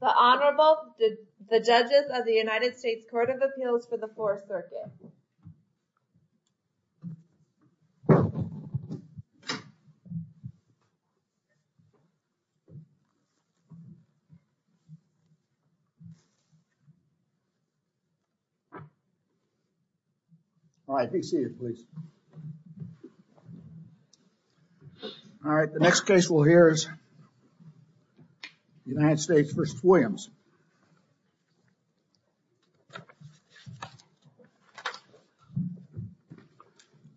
The Honorable, the Judges of the United States Court of Appeals for the Fourth Circuit. All right, take a seat, please. All right, the next case we'll hear is United States v. Williams.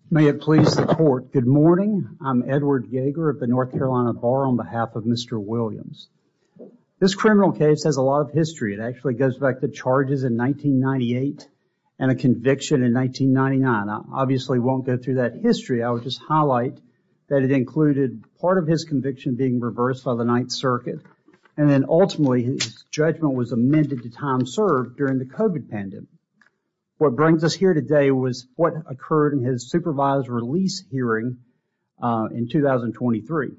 May it please the court, good morning. I'm Edward Yeager of the North Carolina Bar on behalf of Mr. Williams. This criminal case has a lot of history. It actually goes back to charges in 1998 and a conviction in 1999. I obviously won't go through that history. I would just highlight that it included part of his conviction being reversed by the Ninth Circuit. And then ultimately, his judgment was amended to time served during the COVID pandemic. What brings us here today was what occurred in his supervised release hearing in 2023.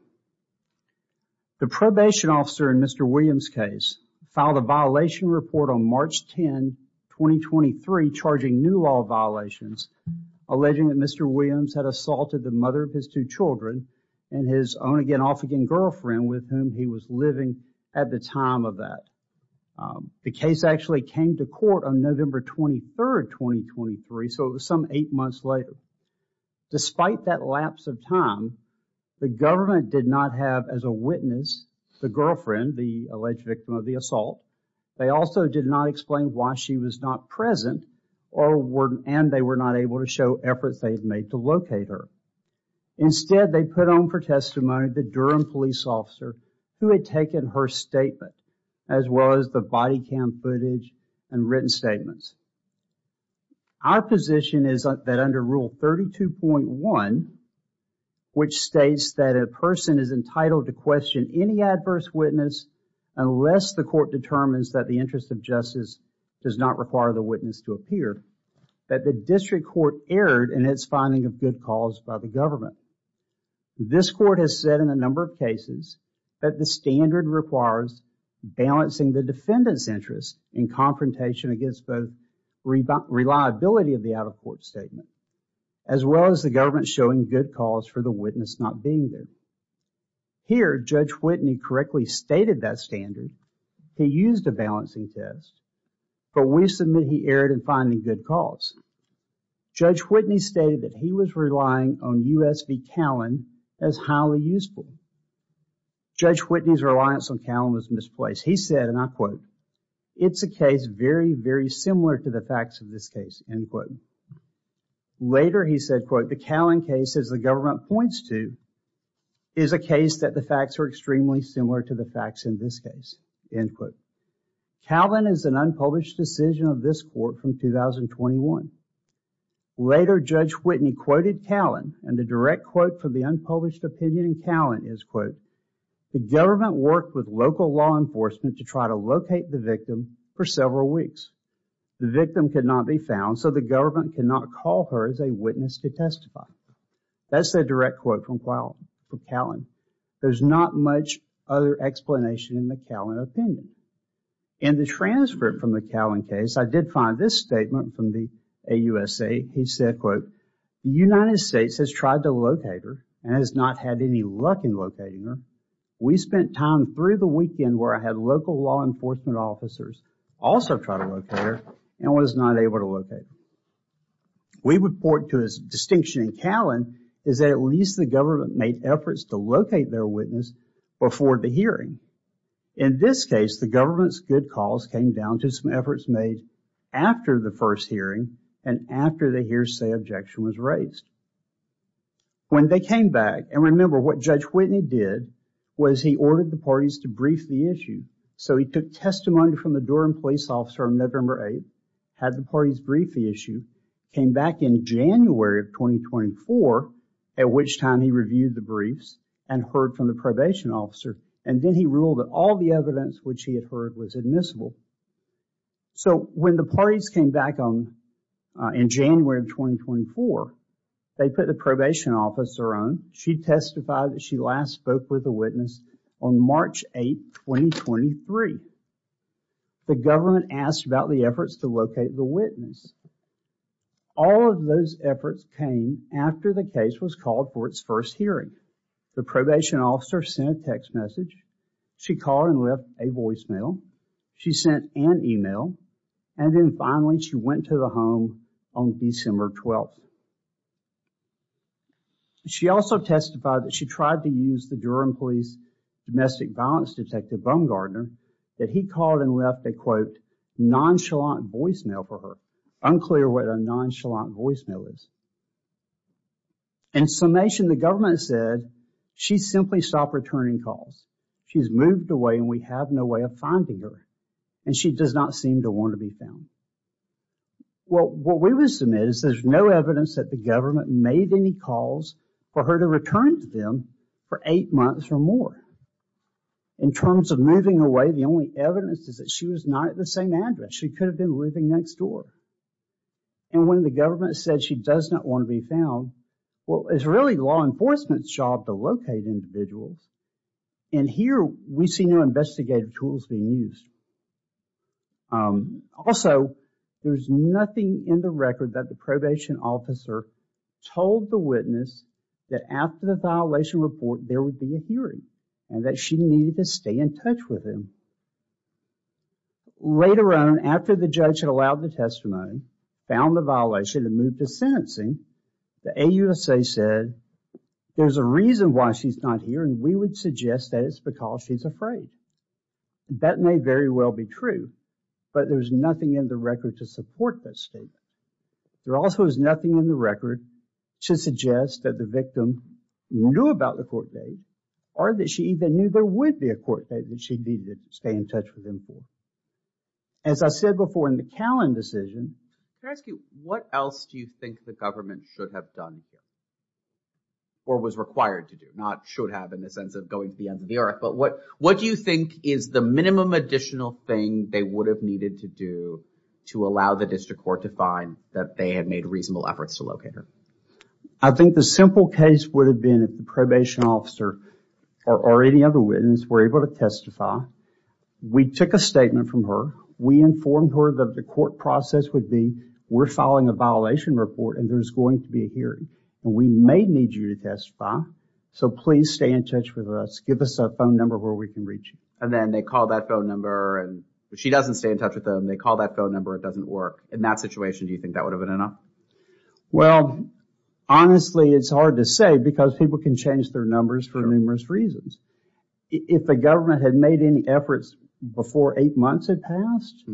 The probation officer in Mr. Williams' case filed a violation report on March 10, 2023, charging new law violations, alleging that Mr. Williams had assaulted the mother of his two children and his on-again, off-again girlfriend with whom he was living at the time of that. The case actually came to court on November 23, 2023, so it was some eight months later. Despite that lapse of time, the government did not have as a witness the girlfriend, the alleged victim of the assault. They also did not explain why she was not present, and they were not able to show efforts they had made to locate her. Instead, they put on for testimony the Durham police officer who had taken her statement, as well as the body cam footage and written statements. Our position is that under Rule 32.1, which states that a person is entitled to question any adverse witness unless the court determines that the interest of justice does not require the witness to appear, that the district court erred in its finding of good cause by the government. This court has said in a number of cases that the standard requires balancing the defendant's interest in confrontation against both reliability of the out-of-court statement, as well as the government showing good cause for the witness not being there. Here, Judge Whitney correctly stated that standard. He used a balancing test, but we submit he erred in finding good cause. Judge Whitney stated that he was relying on U.S. v. Callen as highly useful. Judge Whitney's reliance on Callen was misplaced. He said, and I quote, it's a case very, very similar to the facts of this case, end quote. Later, he said, quote, the Callen case, as the government points to, is a case that the facts are extremely similar to the facts in this case, end quote. Callen is an unpublished decision of this court from 2021. Later, Judge Whitney quoted Callen, and the direct quote from the unpublished opinion in Callen is, quote, the government worked with local law enforcement to try to locate the victim for several weeks. The victim could not be found, so the government could not call her as a witness to testify. That's the direct quote from Callen. There's not much other explanation in the Callen opinion. In the transcript from the Callen case, I did find this statement from the AUSA. He said, quote, the United States has tried to locate her and has not had any luck in locating her. We spent time through the weekend where I had local law enforcement officers also try to locate her and was not able to locate her. We would point to his distinction in Callen is that at least the government made efforts to locate their witness before the hearing. In this case, the government's good cause came down to some efforts made after the first hearing and after the hearsay objection was raised. When they came back, and remember what Judge Whitney did was he ordered the parties to brief the issue. So he took testimony from the Durham police officer on November 8th, had the parties brief the issue, came back in January of 2024, at which time he reviewed the briefs and heard from the probation officer, and then he ruled that all the evidence which he had heard was admissible. So when the parties came back in January of 2024, they put the probation officer on. She testified that she last spoke with a witness on March 8th, 2023. The government asked about the efforts to locate the witness. All of those efforts came after the case was called for its first hearing. The probation officer sent a text message. She called and left a voicemail. She sent an email. And then finally she went to the home on December 12th. She also testified that she tried to use the Durham police domestic violence detective, Bone Gardner, that he called and left a quote, nonchalant voicemail for her. Unclear what a nonchalant voicemail is. In summation, the government said she simply stopped returning calls. She's moved away and we have no way of finding her. And she does not seem to want to be found. Well, what we would submit is there's no evidence that the government made any calls for her to return to them for eight months or more. In terms of moving away, the only evidence is that she was not at the same address. She could have been living next door. And when the government said she does not want to be found, well, it's really law enforcement's job to locate individuals. And here we see no investigative tools being used. Also, there's nothing in the record that the probation officer told the witness that after the violation report there would be a hearing and that she needed to stay in touch with him. Later on, after the judge had allowed the testimony, found the violation and moved to sentencing, the AUSA said there's a reason why she's not here and we would suggest that it's because she's afraid. That may very well be true, but there's nothing in the record to support that statement. There also is nothing in the record to suggest that the victim knew about the court date or that she even knew there would be a court date that she needed to stay in touch with him for. As I said before in the Callan decision. Can I ask you, what else do you think the government should have done here? Or was required to do? Not should have in the sense of going to the end of the earth, but what do you think is the minimum additional thing they would have needed to do to allow the district court to find that they had made reasonable efforts to locate her? I think the simple case would have been if the probation officer or any other witness were able to testify. We took a statement from her. We informed her that the court process would be we're filing a violation report and there's going to be a hearing and we may need you to testify. So please stay in touch with us. Give us a phone number where we can reach you. And then they call that phone number and she doesn't stay in touch with them. They call that phone number. It doesn't work. In that situation, do you think that would have been enough? Well, honestly, it's hard to say because people can change their numbers for numerous reasons. If the government had made any efforts before eight months had passed,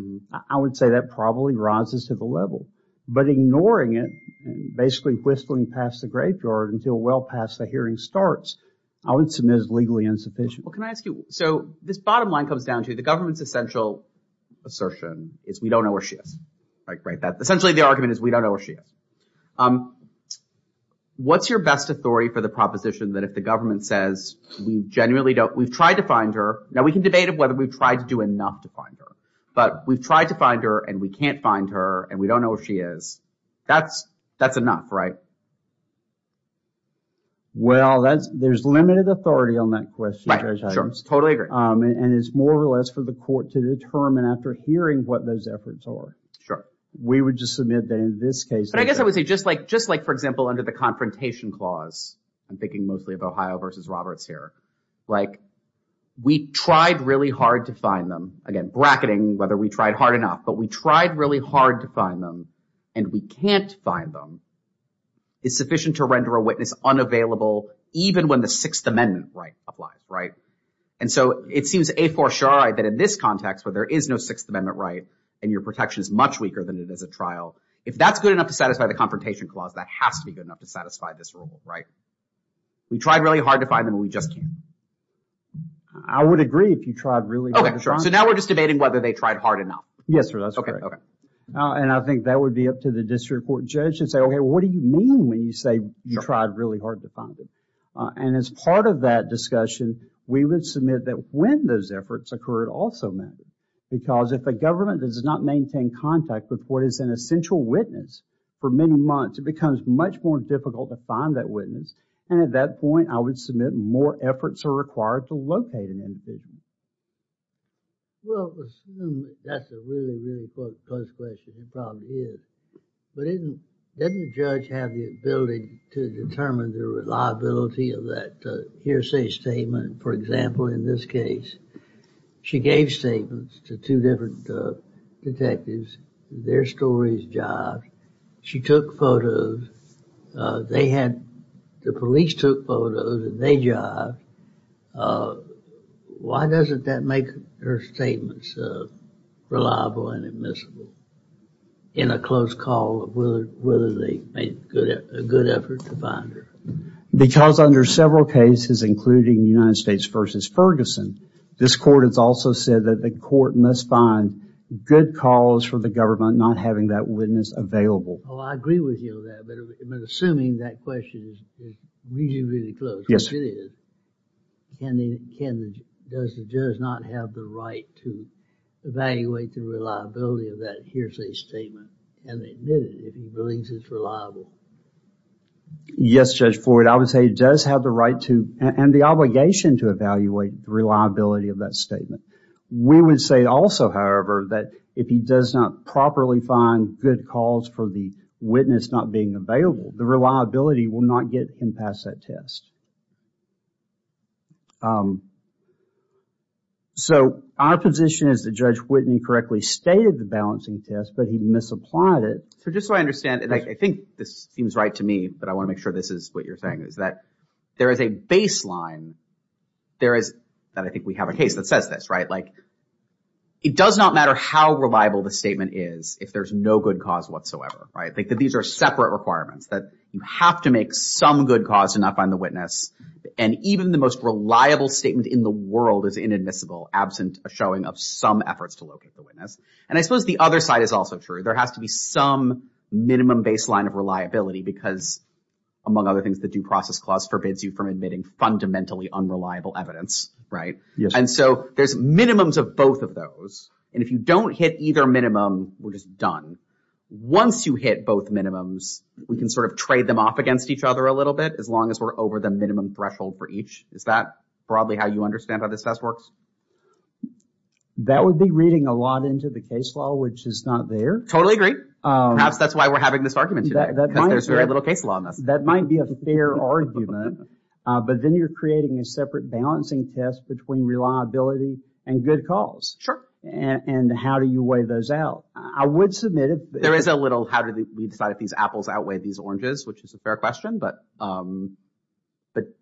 I would say that probably rises to the level. But ignoring it, basically whistling past the graveyard until well past the hearing starts, I would submit as legally insufficient. Well, can I ask you, so this bottom line comes down to the government's essential assertion is we don't know where she is. Essentially the argument is we don't know where she is. What's your best authority for the proposition that if the government says we genuinely don't, we've tried to find her. Now we can debate whether we've tried to do enough to find her. But we've tried to find her and we can't find her and we don't know where she is. That's enough, right? Well, there's limited authority on that question. Right. Sure. Totally agree. And it's more or less for the court to determine after hearing what those efforts are. Sure. We would just submit that in this case. But I guess I would say just like for example under the Confrontation Clause, I'm thinking mostly of Ohio v. Roberts here, like we tried really hard to find them. Again, bracketing whether we tried hard enough, but we tried really hard to find them and we can't find them is sufficient to render a witness unavailable even when the Sixth Amendment right applies, right? And so it seems a for sure that in this context where there is no Sixth Amendment right and your protection is much weaker than it is a trial, if that's good enough to satisfy the Confrontation Clause, that has to be good enough to satisfy this rule, right? We tried really hard to find them and we just can't. I would agree if you tried really hard to find them. Okay. So now we're just debating whether they tried hard enough. Yes, sir. That's right. Okay. Okay. And I think that would be up to the district court judge to say, okay, what do you mean when you say you tried really hard to find them? And as part of that discussion, we would submit that when those efforts occurred also meant because if a government does not maintain contact with what is an essential witness for many months, it becomes much more difficult to find that witness. And at that point, I would submit more efforts are required to locate an individual. Well, assume that's a really, really close question. It probably is. But didn't the judge have the ability to determine the reliability of that hearsay statement? For example, in this case, she gave statements to two different detectives. Their stories jive. She took photos. They had the police took photos and they jived. Why doesn't that make her statements reliable and admissible in a close call of whether they made a good effort to find her? Because under several cases, including United States v. Ferguson, this court has also said that the court must find good cause for the government not having that witness available. Oh, I agree with you on that. But assuming that question is really, really close, which it is, does the judge not have the right to evaluate the reliability of that hearsay statement and admit it if he believes it's reliable? Yes, Judge Floyd. I would say he does have the right to and the obligation to evaluate the reliability of that statement. We would say also, however, that if he does not properly find good cause for the witness not being available, the reliability will not get him past that test. So, our position is that Judge Whitney correctly stated the balancing test, but he misapplied it. So, just so I understand, and I think this seems right to me, but I want to make sure this is what you're saying, is that there is a baseline that I think we have a case that says this, right? Like, it does not matter how reliable the statement is if there's no good cause whatsoever, right? These are separate requirements that you have to make some good cause to not find the witness. And even the most reliable statement in the world is inadmissible absent a showing of some efforts to locate the witness. And I suppose the other side is also true. There has to be some minimum baseline of reliability because, among other things, the Due Process Clause forbids you from admitting fundamentally unreliable evidence, right? Yes. And so, there's minimums of both of those. And if you don't hit either minimum, we're just done. Once you hit both minimums, we can sort of trade them off against each other a little bit as long as we're over the minimum threshold for each. Is that broadly how you understand how this test works? That would be reading a lot into the case law, which is not there. Totally agree. Perhaps that's why we're having this argument today because there's very little case law in this. That might be a fair argument. But then you're creating a separate balancing test between reliability and good cause. Sure. And how do you weigh those out? I would submit it. There is a little how do we decide if these apples outweigh these oranges, which is a fair question. But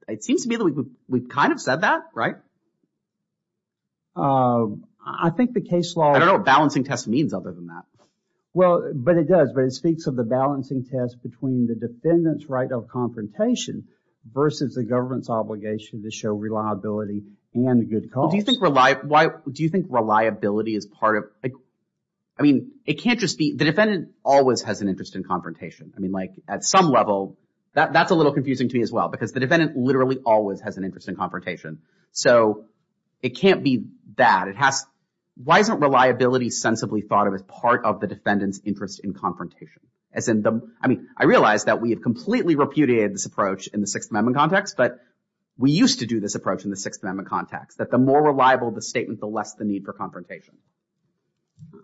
it seems to me that we've kind of said that, right? I think the case law… Well, but it does. But it speaks of the balancing test between the defendant's right of confrontation versus the government's obligation to show reliability and good cause. Do you think reliability is part of… I mean, it can't just be… The defendant always has an interest in confrontation. I mean, like at some level, that's a little confusing to me as well because the defendant literally always has an interest in confrontation. So it can't be that. Why isn't reliability sensibly thought of as part of the defendant's interest in confrontation? I mean, I realize that we have completely repudiated this approach in the Sixth Amendment context, but we used to do this approach in the Sixth Amendment context, that the more reliable the statement, the less the need for confrontation.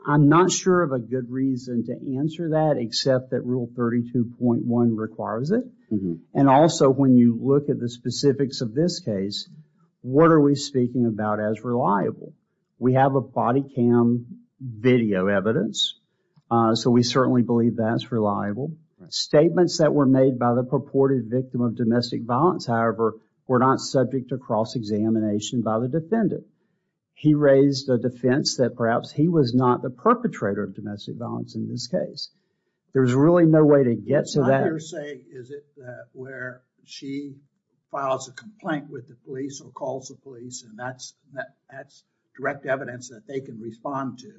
I'm not sure of a good reason to answer that except that Rule 32.1 requires it. And also, when you look at the specifics of this case, what are we speaking about as reliable? We have a body cam video evidence, so we certainly believe that's reliable. Statements that were made by the purported victim of domestic violence, however, were not subject to cross-examination by the defendant. He raised a defense that perhaps he was not the perpetrator of domestic violence in this case. There's really no way to get to that. What hearsay is it that where she files a complaint with the police or calls the police, and that's direct evidence that they can respond to,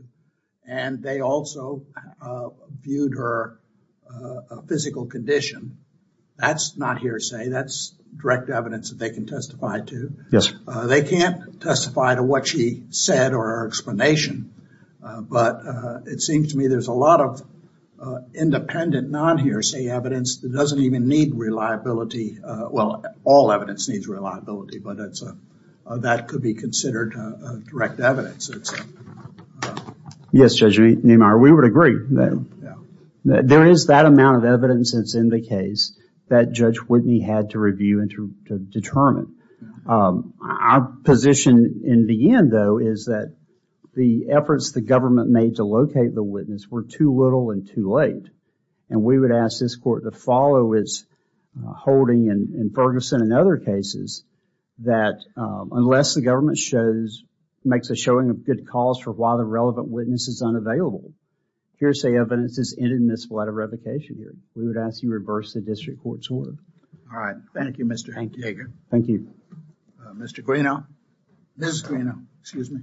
and they also viewed her physical condition. That's not hearsay. That's direct evidence that they can testify to. They can't testify to what she said or her explanation, but it seems to me there's a lot of independent non-hearsay evidence that doesn't even need reliability. Well, all evidence needs reliability, but that could be considered direct evidence. Yes, Judge Neimeyer, we would agree. There is that amount of evidence that's in the case that Judge Whitney had to review and to determine. Our position in the end, though, is that the efforts the government made to locate the witness were too little and too late, and we would ask this court to follow its holding in Ferguson and other cases that unless the government makes a showing of good cause for why the relevant witness is unavailable, hearsay evidence is inadmissible out of revocation here. We would ask you to reverse the district court's order. All right. Thank you, Mr. Hanke. Thank you. Mr. Greenough. Ms. Greenough. Excuse me.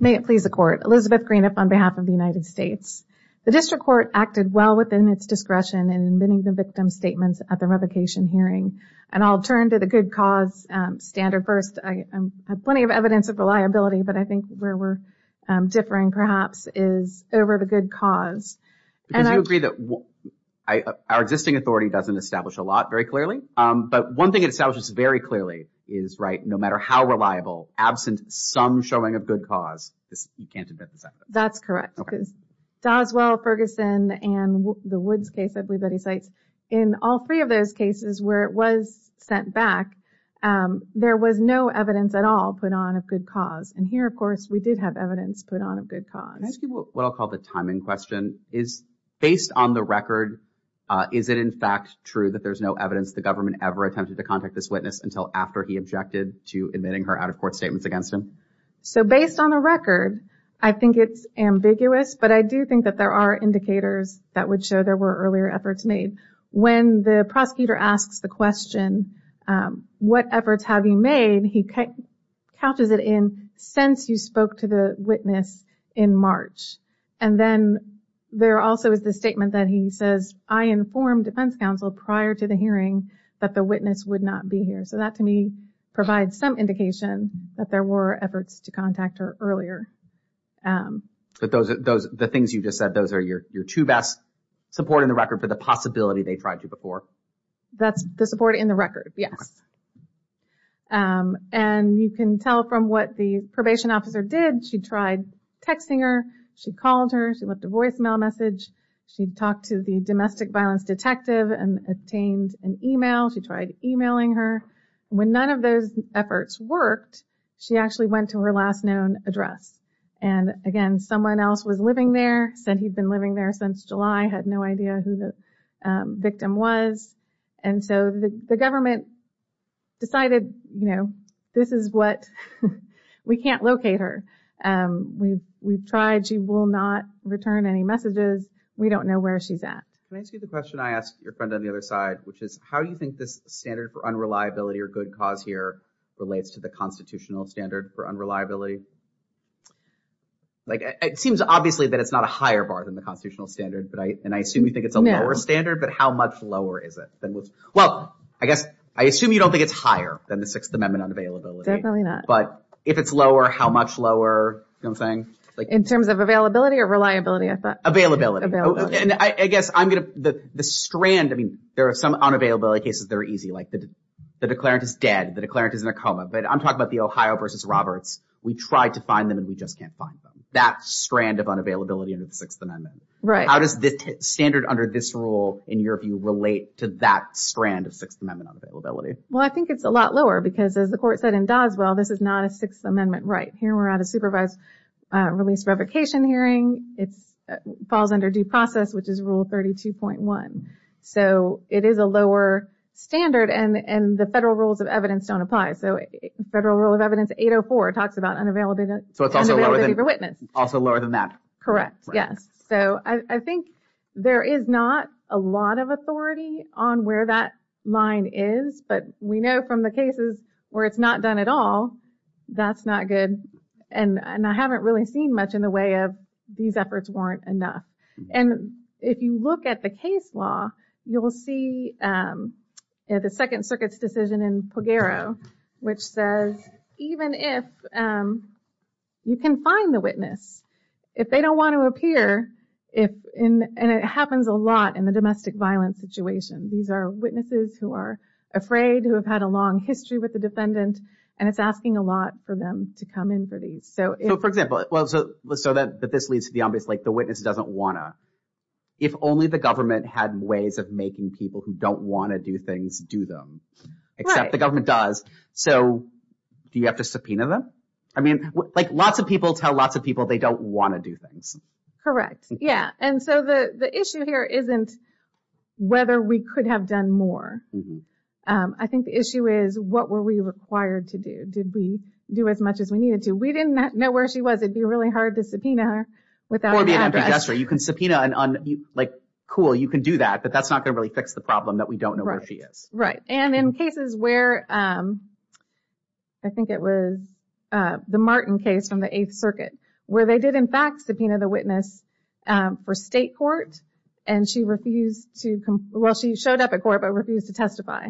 May it please the court. Elizabeth Greenough on behalf of the United States. The district court acted well within its discretion in admitting the victim's statements at the revocation hearing, and I'll turn to the good cause standard first. I have plenty of evidence of reliability, but I think where we're differing, perhaps, is over the good cause. Because you agree that our existing authority doesn't establish a lot very clearly, but one thing it establishes very clearly is, right, no matter how reliable, absent some showing of good cause, you can't admit this evidence. That's correct. Because Doswell, Ferguson, and the Woods case, I believe that he cites, in all three of those cases where it was sent back, there was no evidence at all put on of good cause and here, of course, we did have evidence put on of good cause. Can I ask you what I'll call the timing question? Based on the record, is it in fact true that there's no evidence the government ever attempted to contact this witness until after he objected to admitting her out-of-court statements against him? So based on the record, I think it's ambiguous, but I do think that there are indicators that would show there were earlier efforts made. When the prosecutor asks the question, what efforts have you made, he couches it in, since you spoke to the witness in March. And then there also is the statement that he says, I informed defense counsel prior to the hearing that the witness would not be here. So that, to me, provides some indication that there were efforts to contact her earlier. But the things you just said, those are your two best support in the record for the possibility they tried to before. That's the support in the record, yes. And you can tell from what the probation officer did. She tried texting her. She called her. She left a voicemail message. She talked to the domestic violence detective and obtained an email. She tried emailing her. When none of those efforts worked, she actually went to her last known address. And again, someone else was living there, said he'd been living there since July, had no idea who the victim was. And so the government decided, you know, this is what, we can't locate her. We've tried, she will not return any messages. We don't know where she's at. Can I ask you the question I asked your friend on the other side, which is, how do you think this standard for unreliability or good cause here relates to the constitutional standard for unreliability? Like, it seems obviously that it's not a higher bar than the constitutional standard, and I assume you think it's a lower standard, but how much lower is it? Well, I guess, I assume you don't think it's higher than the Sixth Amendment on availability. Definitely not. But if it's lower, how much lower, you know what I'm saying? In terms of availability or reliability, I thought. Availability. And I guess I'm going to, the strand, I mean, there are some unavailability cases that are easy, like the declarant is dead, the declarant is in a coma, but I'm talking about the Ohio versus Roberts. We tried to find them and we just can't find them. That strand of unavailability under the Sixth Amendment. Right. How does the standard under this rule in your view relate to that strand of Sixth Amendment unavailability? Well, I think it's a lot lower because, as the court said in Doswell, this is not a Sixth Amendment right. Here we're at a supervised release revocation hearing. It falls under due process, which is Rule 32.1. So it is a lower standard, and the federal rules of evidence don't apply. So Federal Rule of Evidence 804 talks about unavailability for witness. So it's also lower than that. Correct, yes. So I think there is not a lot of authority on where that line is, but we know from the cases where it's not done at all, that's not good. And I haven't really seen much in the way of these efforts weren't enough. And if you look at the case law, you'll see the Second Circuit's decision in Pogaro, which says even if you can find the witness, if they don't want to appear, and it happens a lot in the domestic violence situation, these are witnesses who are afraid, who have had a long history with the defendant, and it's asking a lot for them to come in for these. So for example, so that this leads to the obvious, like the witness doesn't want to. If only the government had ways of making people who don't want to do things do them, except the government does. So do you have to subpoena them? I mean, like lots of people tell lots of people they don't want to do things. Correct, yeah. And so the issue here isn't whether we could have done more. I think the issue is what were we required to do? Did we do as much as we needed to? We didn't know where she was. It'd be really hard to subpoena her without an address. Or be an empty duster. You can subpoena, like cool, you can do that, but that's not going to really fix the problem that we don't know where she is. Right, and in cases where, I think it was the Martin case from the Eighth Circuit, where they did in fact subpoena the witness for state court, and she refused to, well, she showed up at court, but refused to testify.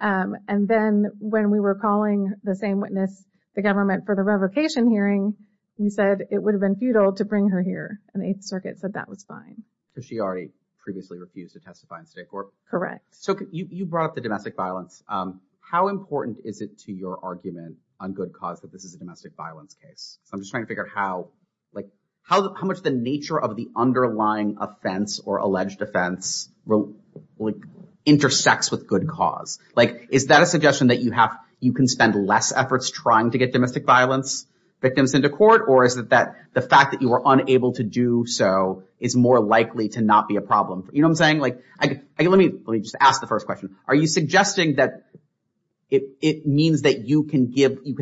And then when we were calling the same witness, the government, for the revocation hearing, we said it would have been futile to bring her here. And the Eighth Circuit said that was fine. Because she already previously refused to testify in state court? Correct. So you brought up the domestic violence. How important is it to your argument on good cause that this is a domestic violence case? I'm just trying to figure out how much the nature of the underlying offense or alleged offense intersects with good cause. Is that a suggestion that you can spend less efforts trying to get domestic violence victims into court? Or is it that the fact that you were unable to do so is more likely to not be a problem? You know what I'm saying? Let me just ask the first question. Are you suggesting that it means that you can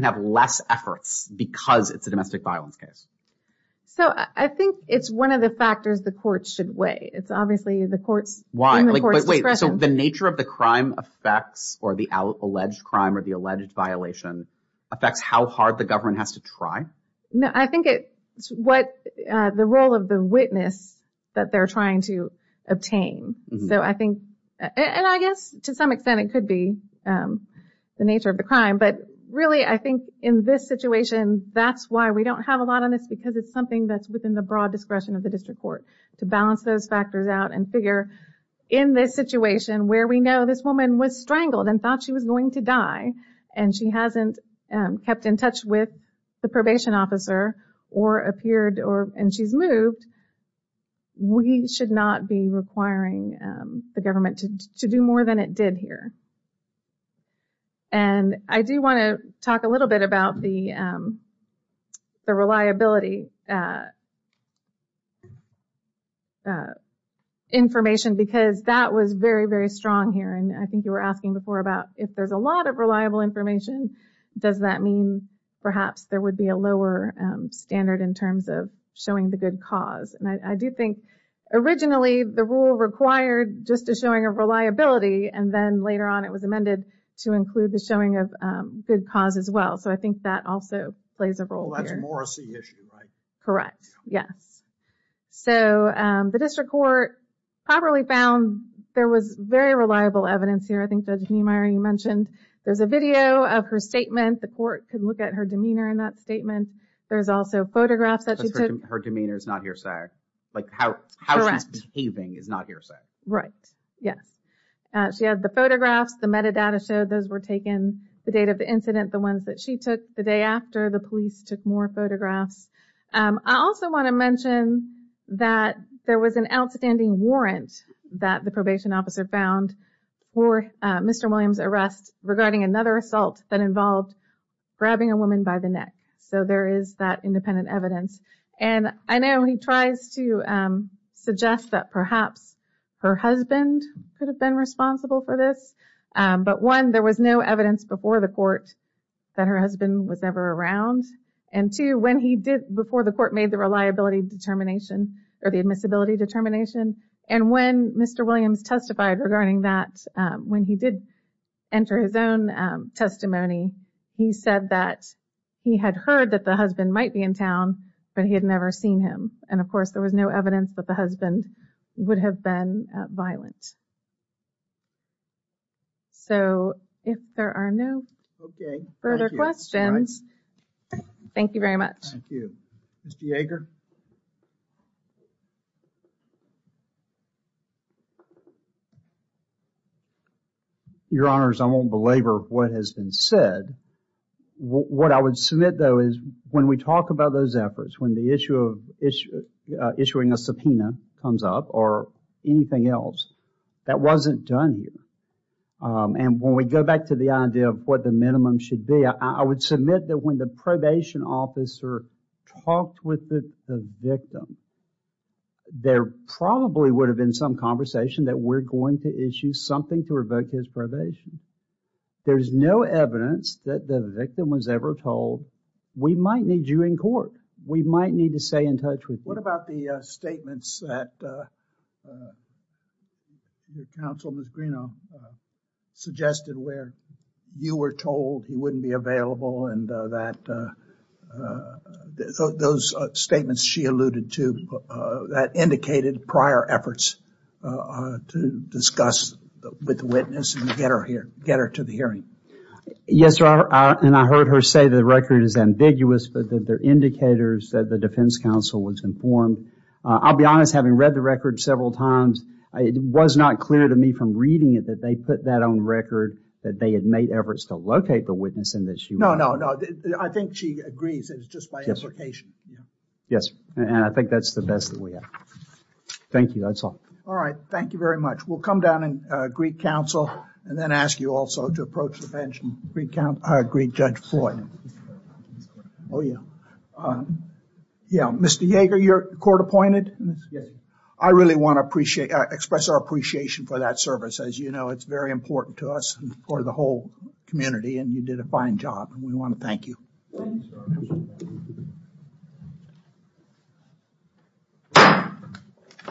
have less efforts because it's a domestic violence case? So I think it's one of the factors the court should weigh. It's obviously the court's discretion. Wait, so the nature of the crime affects, or the alleged crime or the alleged violation, affects how hard the government has to try? No, I think it's what the role of the witness that they're trying to obtain. So I think, and I guess to some extent it could be the nature of the crime. But really, I think in this situation, that's why we don't have a lot on this because it's something that's within the broad discretion of the district court to balance those factors out and figure in this situation where we know this woman was strangled and thought she was going to die and she hasn't kept in touch with the probation officer or appeared and she's moved, we should not be requiring the government to do more than it did here. And I do want to talk a little bit about the reliability information because that was very, very strong here. And I think you were asking before about if there's a lot of reliable information, does that mean perhaps there would be a lower standard in terms of showing the good cause? And I do think originally the rule required just a showing of reliability and then later on it was amended to include the showing of good cause as well. So I think that also plays a role here. Oh, that's a Morrissey issue, right? Correct, yes. So the district court properly found there was very reliable evidence here. I think Judge Niemeyer, you mentioned there's a video of her statement. The court could look at her demeanor in that statement. There's also photographs that she took. Her demeanor is not hearsay. Like how she's behaving is not hearsay. Right, yes. She has the photographs, the metadata showed those were taken, the date of the incident, the ones that she took, the day after, the police took more photographs. I also want to mention that there was an outstanding warrant that the probation officer found for Mr. Williams' arrest regarding another assault that involved grabbing a woman by the neck. So there is that independent evidence. And I know he tries to suggest that perhaps her husband could have been responsible for this. But one, there was no evidence before the court that her husband was ever around. And two, when he did, before the court made the reliability determination or the admissibility determination, and when Mr. Williams testified regarding that, when he did enter his own testimony, he said that he had heard that the husband might be in town, but he had never seen him. And of course, there was no evidence that the husband would have been violent. So if there are no further questions, thank you very much. Thank you. Mr. Yeager? Your Honors, I won't belabor what has been said. What I would submit, though, is when we talk about those efforts, when the issue of issuing a subpoena comes up or anything else, that wasn't done here. And when we go back to the idea of what the minimum should be, I would submit that when the probation officer talked with the victim, there probably would have been some conversation that we're going to issue something to revoke his probation. There's no evidence that the victim was ever told, we might need you in court. We might need to stay in touch with you. What about the statements that the counsel, Ms. Greenaw, suggested where you were told he wouldn't be available and that those statements she alluded to that indicated prior efforts to discuss with the witness and get her to the hearing? Yes, Robert, and I heard her say that the record is ambiguous, but there are indicators that the defense counsel was informed. I'll be honest, having read the record several times, it was not clear to me from reading it that they put that on record that they had made efforts to locate the witness and that she was informed. No, no, no, I think she agrees. It's just my implication. Yes, and I think that's the best that we have. Thank you, that's all. All right, thank you very much. We'll come down and greet counsel and then ask you also to approach the bench and greet Judge Floyd. Oh, yeah. Yeah, Mr. Yeager, you're court appointed. I really want to express our appreciation for that service. As you know, it's very important to us and for the whole community and you did a fine job. We want to thank you.